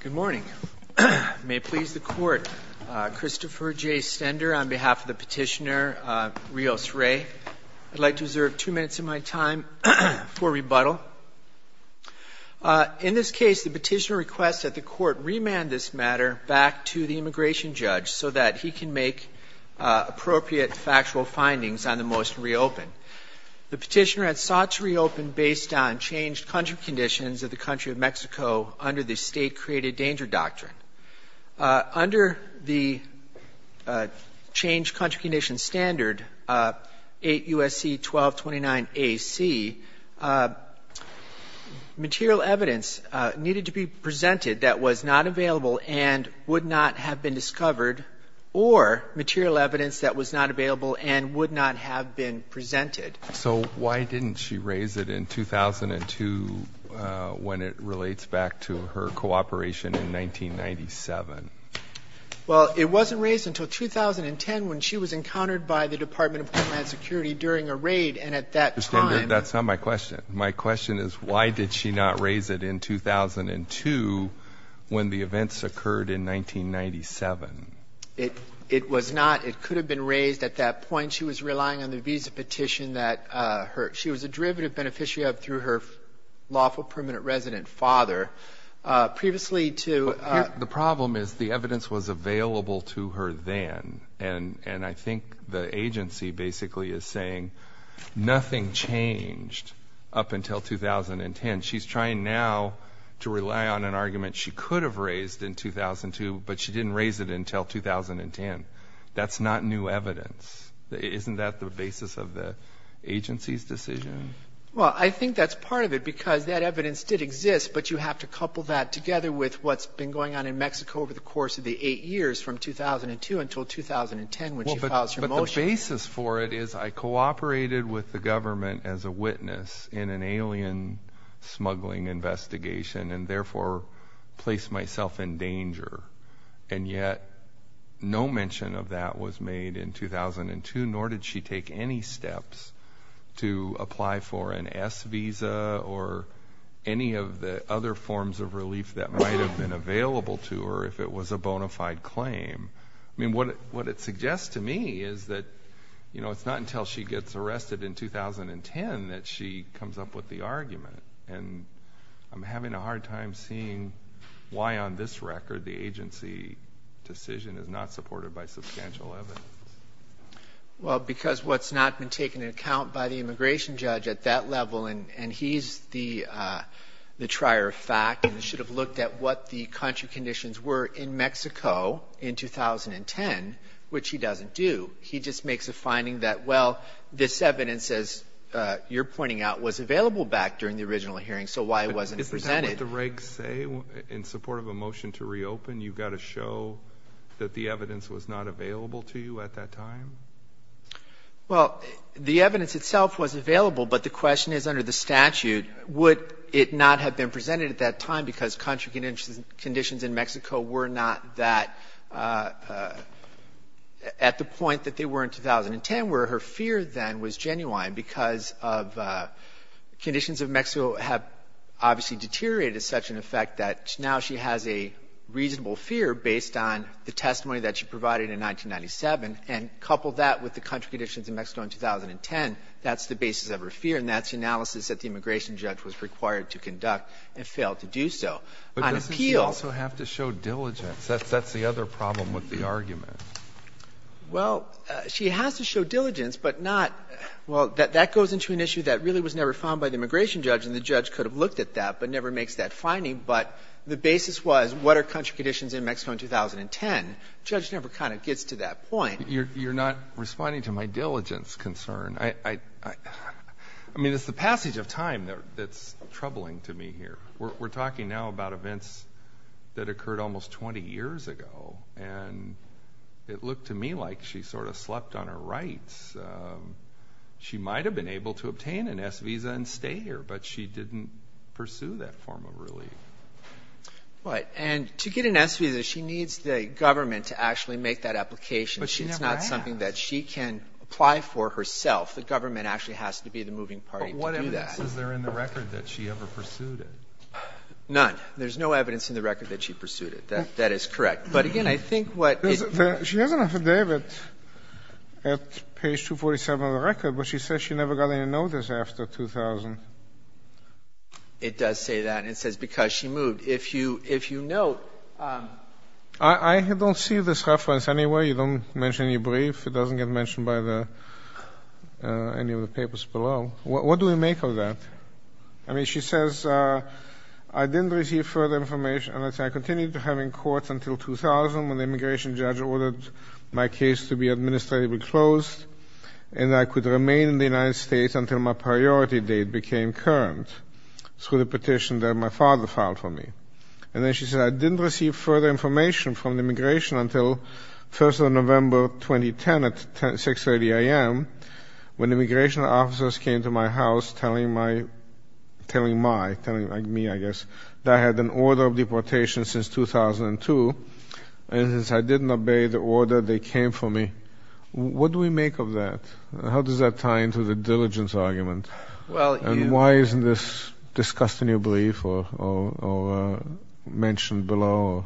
Good morning. May it please the Court, Christopher J. Stender on behalf of the petitioner Rios Rey. I'd like to reserve two minutes of my time for rebuttal. In this case, the petitioner requests that the Court remand this matter back to the immigration judge so that he can make appropriate factual findings on the motion to reopen. The petitioner had sought to reopen based on changed country conditions of the country of Mexico under the State Created Danger Doctrine. Under the Changed Country Conditions Standard 8 U.S.C. 1229 A.C., material evidence needed to be presented that was not available and would not have been discovered or material evidence that was not available and would not have been presented. So why didn't she raise it in 2002 when it relates back to her cooperation in 1997? Well, it wasn't raised until 2010 when she was encountered by the Department of Homeland Security during a raid, and at that time That's not my question. My question is why did she not raise it in 2002 when the events occurred in 1997? It was not. It could have been raised at that point. She was relying on the visa petition that she was a derivative beneficiary of through her lawful permanent resident father. Previously to The problem is the evidence was available to her then, and I think the agency basically is saying nothing changed up until 2010. She's trying now to rely on an argument she could have raised in 2002, but she didn't raise it until 2010. That's not new evidence. Isn't that the basis of the agency's decision? Well, I think that's part of it because that evidence did exist, but you have to couple that together with what's been going on in Mexico over the course of the eight years from 2002 until 2010, when she filed her motion. But the basis for it is I cooperated with the government as a witness in an alien smuggling investigation and therefore placed myself in danger, and yet no mention of that was made in 2002, nor did she take any steps to apply for an S visa or any of the other forms of relief that might have been available to her if it was a bona fide claim. I mean, what it suggests to me is that it's not until she gets arrested in 2010 that she comes up with the argument, and I'm having a hard time seeing why on this record the agency decision is not supported by substantial evidence. Well, because what's not been taken into account by the immigration judge at that level, and he's the trier of fact and should have looked at what the country conditions were in Mexico in 2010, which he doesn't do. He just makes a finding that, well, this evidence, as you're pointing out, was available back during the original hearing, so why it wasn't presented. Is that what the regs say? In support of a motion to reopen, you've got to show that the evidence was not available to you at that time? Well, the evidence itself was available, but the question is under the statute, would it not have been presented at that time because country conditions in Mexico were not that at the point that they were in 2010, where her fear then was genuine because of conditions of Mexico have obviously deteriorated to such an effect that now she has a reasonable fear based on the testimony that she provided in 1997, and coupled that with the country conditions in Mexico in 2010, that's the basis of her fear, and that's the analysis that the immigration judge was required to conduct and failed to do so. But doesn't she also have to show diligence? That's the other problem with the argument. Well, she has to show diligence, but not — well, that goes into an issue that really was never found by the immigration judge, and the judge could have looked at that but never makes that finding, but the basis was what are country conditions in Mexico in 2010. The judge never kind of gets to that point. You're not responding to my diligence concern. I mean, it's the passage of time that's troubling to me here. We're talking now about events that occurred almost 20 years ago, and it looked to me like she sort of slept on her rights. She might have been able to obtain an S visa and stay here, but she didn't pursue that form of relief. Right, and to get an S visa, she needs the government to actually make that application. But she never has. It's not something that she can apply for herself. The government actually has to be the moving party to do that. None. There's no evidence in the record that she pursued it. That is correct. But, again, I think what — She has an affidavit at page 247 of the record, but she says she never got any notice after 2000. It does say that. It says because she moved. If you note — I don't see this reference anywhere. You don't mention any brief. It doesn't get mentioned by any of the papers below. What do we make of that? I mean, she says, I didn't receive further information, and I continue to have in court until 2000, when the immigration judge ordered my case to be administratively closed, and I could remain in the United States until my priority date became current, through the petition that my father filed for me. And then she said, I didn't receive further information from the immigration until 1st of November 2010 at 6.30 a.m., when immigration officers came to my house telling my — telling my — telling me, I guess, that I had an order of deportation since 2002, and since I didn't obey the order, they came for me. What do we make of that? How does that tie into the diligence argument? And why isn't this discussed in your brief or mentioned below?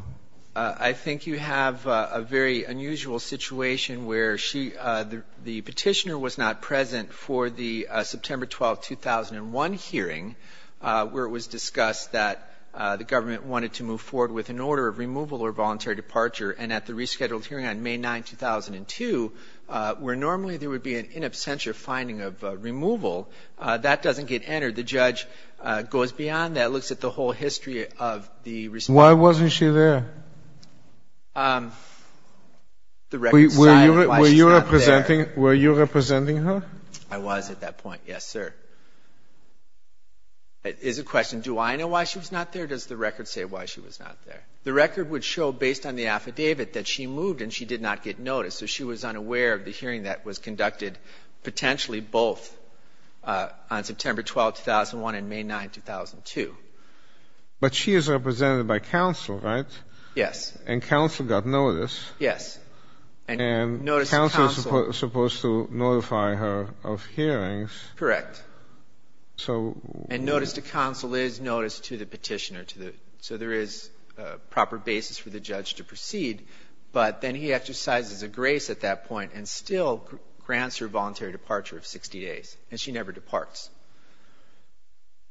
I think you have a very unusual situation where she — the petitioner was not present for the September 12, 2001 hearing, where it was discussed that the government wanted to move forward with an order of removal or voluntary departure. And at the rescheduled hearing on May 9, 2002, where normally there would be an in absentia finding of removal, that doesn't get entered. The judge goes beyond that, looks at the whole history of the — Why wasn't she there? The record decided why she's not there. Were you representing her? I was at that point, yes, sir. It is a question, do I know why she was not there, or does the record say why she was not there? The record would show, based on the affidavit, that she moved and she did not get noticed, so she was unaware of the hearing that was conducted, potentially both on September 12, 2001 and May 9, 2002. But she is represented by counsel, right? Yes. And counsel got notice. Yes. And counsel is supposed to notify her of hearings. Correct. And notice to counsel is notice to the petitioner, so there is a proper basis for the judge to proceed. But then he exercises a grace at that point and still grants her voluntary departure of 60 days, and she never departs.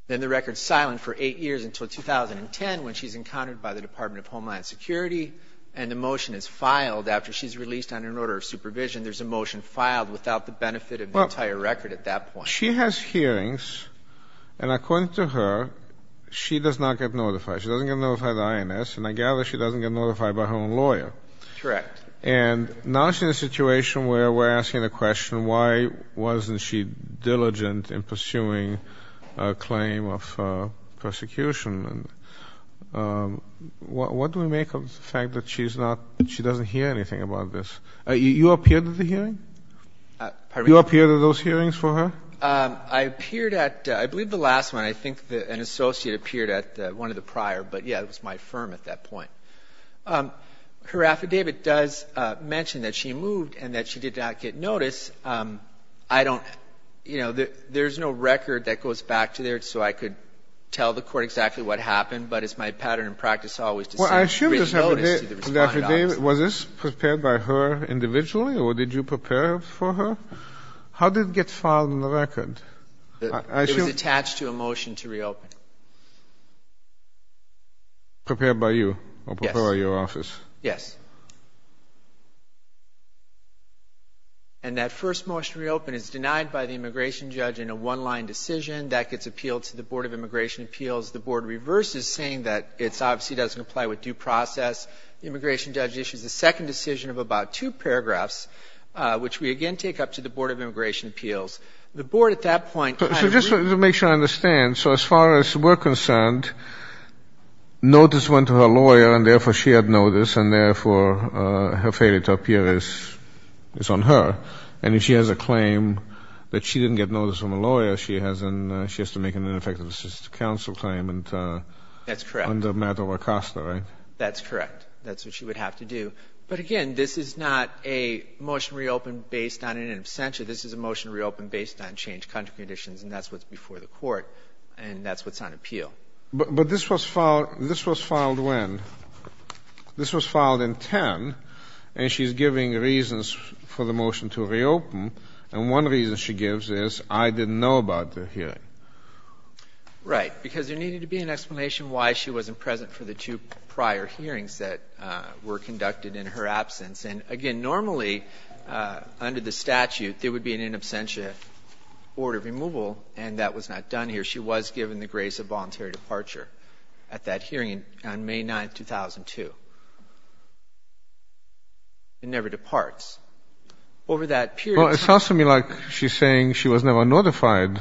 Then the record's silent for eight years until 2010, when she's encountered by the Department of Homeland Security, and the motion is filed after she's released under an order of supervision. There's a motion filed without the benefit of the entire record at that point. She has hearings, and according to her, she does not get notified. She doesn't get notified by the INS, and I gather she doesn't get notified by her own lawyer. Correct. And now she's in a situation where we're asking the question, why wasn't she diligent in pursuing a claim of persecution? What do we make of the fact that she doesn't hear anything about this? You appeared at the hearing? Pardon me? You appeared at those hearings for her? I appeared at, I believe, the last one. I think an associate appeared at one of the prior, but, yeah, it was my firm at that point. Her affidavit does mention that she moved and that she did not get notice. I don't, you know, there's no record that goes back to there so I could tell the court exactly what happened, but it's my pattern and practice always to send written notice to the respondent. Well, I assume this affidavit, was this prepared by her individually, or did you prepare it for her? How did it get filed in the record? It was attached to a motion to reopen. Prepared by you or prepared by your office? Yes. And that first motion to reopen is denied by the immigration judge in a one-line decision. That gets appealed to the Board of Immigration Appeals. The Board reverses, saying that it obviously doesn't comply with due process. The immigration judge issues a second decision of about two paragraphs, which we again take up to the Board of Immigration Appeals. The Board at that point kind of re- Just to make sure I understand, so as far as we're concerned, notice went to her lawyer and therefore she had notice and therefore her failure to appear is on her. And if she has a claim that she didn't get notice from a lawyer, she has to make an ineffective assistant counsel claim under matter of ACOSTA, right? That's correct. That's what she would have to do. But again, this is not a motion to reopen based on an absentia. This is a motion to reopen based on changed country conditions, and that's what's before the court, and that's what's on appeal. But this was filed when? This was filed in 2010, and she's giving reasons for the motion to reopen, and one reason she gives is, I didn't know about the hearing. Right, because there needed to be an explanation why she wasn't present for the two prior hearings that were conducted in her absence. And, again, normally under the statute there would be an in absentia order of removal, and that was not done here. She was given the grace of voluntary departure at that hearing on May 9, 2002. It never departs. Over that period of time. Well, it sounds to me like she's saying she was never notified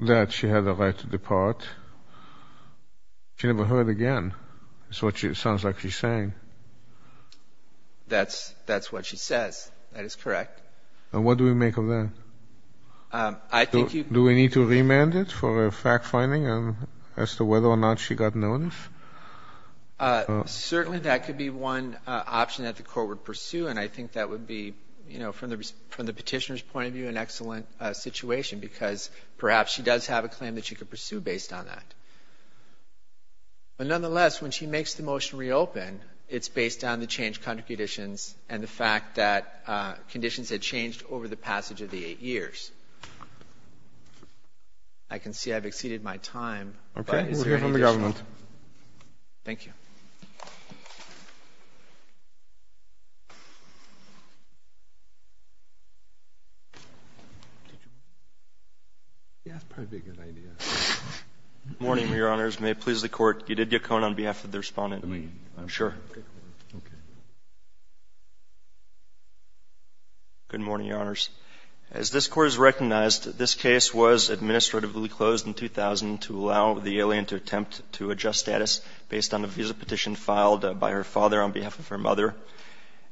that she had the right to depart. She never heard again. It sounds like she's saying. That's what she says. That is correct. And what do we make of that? Do we need to remand it for a fact-finding as to whether or not she got notice? Certainly that could be one option that the court would pursue, and I think that would be, from the petitioner's point of view, an excellent situation, because perhaps she does have a claim that she could pursue based on that. But, nonetheless, when she makes the motion reopen, it's based on the changed country conditions and the fact that conditions had changed over the passage of the eight years. I can see I've exceeded my time. Okay. We'll hear from the government. Thank you. Yes, probably a good idea. Good morning, Your Honors. May it please the Court. You did get caught on behalf of the Respondent. I mean, I'm sure. Okay. Good morning, Your Honors. As this Court has recognized, this case was administratively closed in 2000 to allow the alien to attempt to adjust status based on the visa petition filed by the government. The petition was filed by her father on behalf of her mother,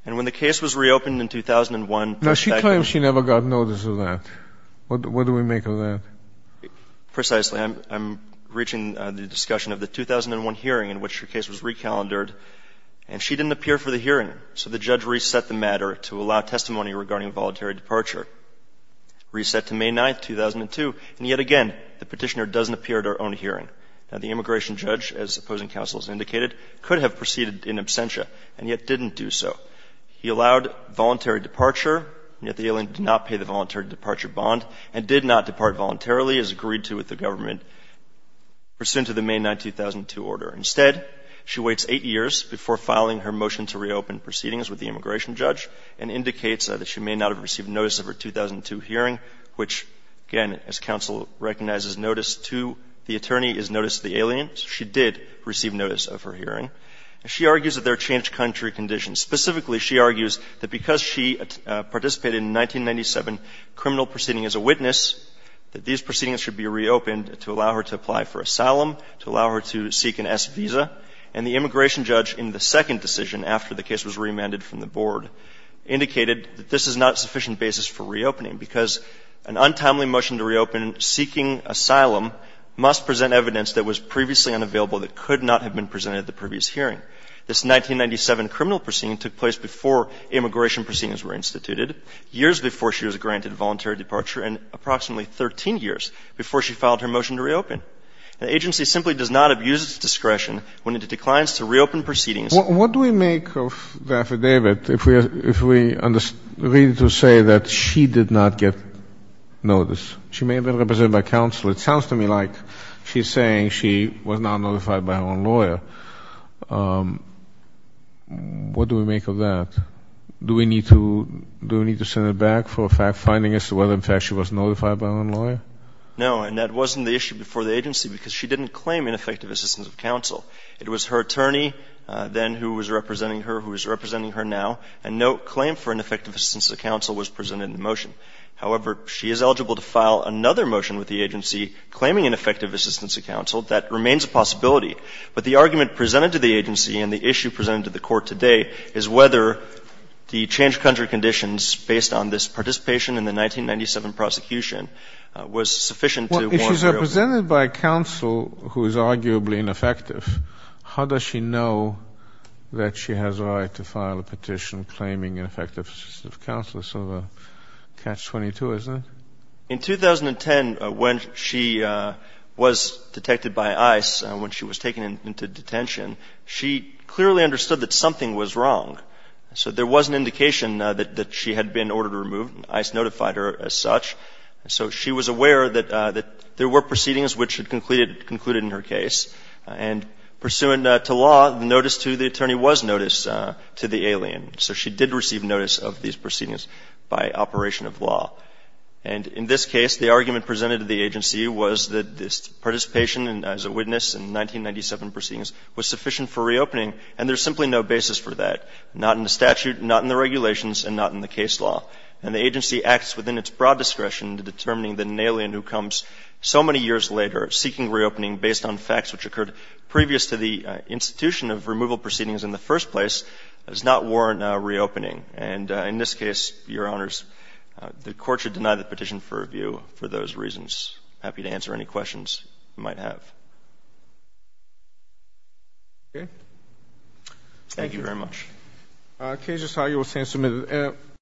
and when the case was reopened in 2001, Now, she claims she never got notice of that. What do we make of that? Precisely. I'm reaching the discussion of the 2001 hearing in which her case was recalendared, and she didn't appear for the hearing, so the judge reset the matter to allow testimony regarding a voluntary departure. Reset to May 9th, 2002, and yet again, the petitioner doesn't appear at her own hearing. Now, the immigration judge, as opposing counsel has indicated, could have proceeded in absentia and yet didn't do so. He allowed voluntary departure, yet the alien did not pay the voluntary departure bond and did not depart voluntarily as agreed to with the government pursuant to the May 9th, 2002, order. Instead, she waits eight years before filing her motion to reopen proceedings with the immigration judge and indicates that she may not have received notice of her 2002 hearing, which, again, as counsel recognizes, notice to the attorney is notice to the alien. She did receive notice of her hearing. She argues that there are changed country conditions. Specifically, she argues that because she participated in a 1997 criminal proceeding as a witness, that these proceedings should be reopened to allow her to apply for asylum, to allow her to seek an S visa. And the immigration judge, in the second decision after the case was remanded from the board, indicated that this is not a sufficient basis for reopening because an untimely motion to reopen seeking asylum must present evidence that was previously unavailable that could not have been presented at the previous hearing. This 1997 criminal proceeding took place before immigration proceedings were instituted, years before she was granted voluntary departure, and approximately 13 years before she filed her motion to reopen. The agency simply does not abuse its discretion when it declines to reopen proceedings. What do we make of the affidavit if we agree to say that she did not get notice? She may have been represented by counsel. It sounds to me like she's saying she was not notified by her own lawyer. What do we make of that? Do we need to send it back for finding as to whether, in fact, she was notified by her own lawyer? No. And that wasn't the issue before the agency because she didn't claim ineffective assistance of counsel. It was her attorney then who was representing her who is representing her now. And no claim for ineffective assistance of counsel was presented in the motion. However, she is eligible to file another motion with the agency claiming ineffective assistance of counsel. That remains a possibility. But the argument presented to the agency and the issue presented to the Court today is whether the change of country conditions based on this participation in the 1997 prosecution was sufficient to warrant a reopening. If she is represented by counsel who is arguably ineffective, how does she know that she has a right to file a petition claiming ineffective assistance of counsel? It's sort of a catch-22, isn't it? In 2010, when she was detected by ICE, when she was taken into detention, she clearly understood that something was wrong. So there was an indication that she had been ordered to remove. ICE notified her as such. So she was aware that there were proceedings which had concluded in her case. And pursuant to law, notice to the attorney was notice to the alien. So she did receive notice of these proceedings by operation of law. And in this case, the argument presented to the agency was that this participation as a witness in 1997 proceedings was sufficient for reopening, and there's simply no basis for that, not in the statute, not in the regulations, and not in the case itself. And the agency acts within its broad discretion to determining the alien who comes so many years later seeking reopening based on facts which occurred previous to the institution of removal proceedings in the first place does not warrant a reopening. And in this case, Your Honors, the court should deny the petition for review for those reasons. I'm happy to answer any questions you might have. Thank you very much. Thank you. Thank you. Thank you.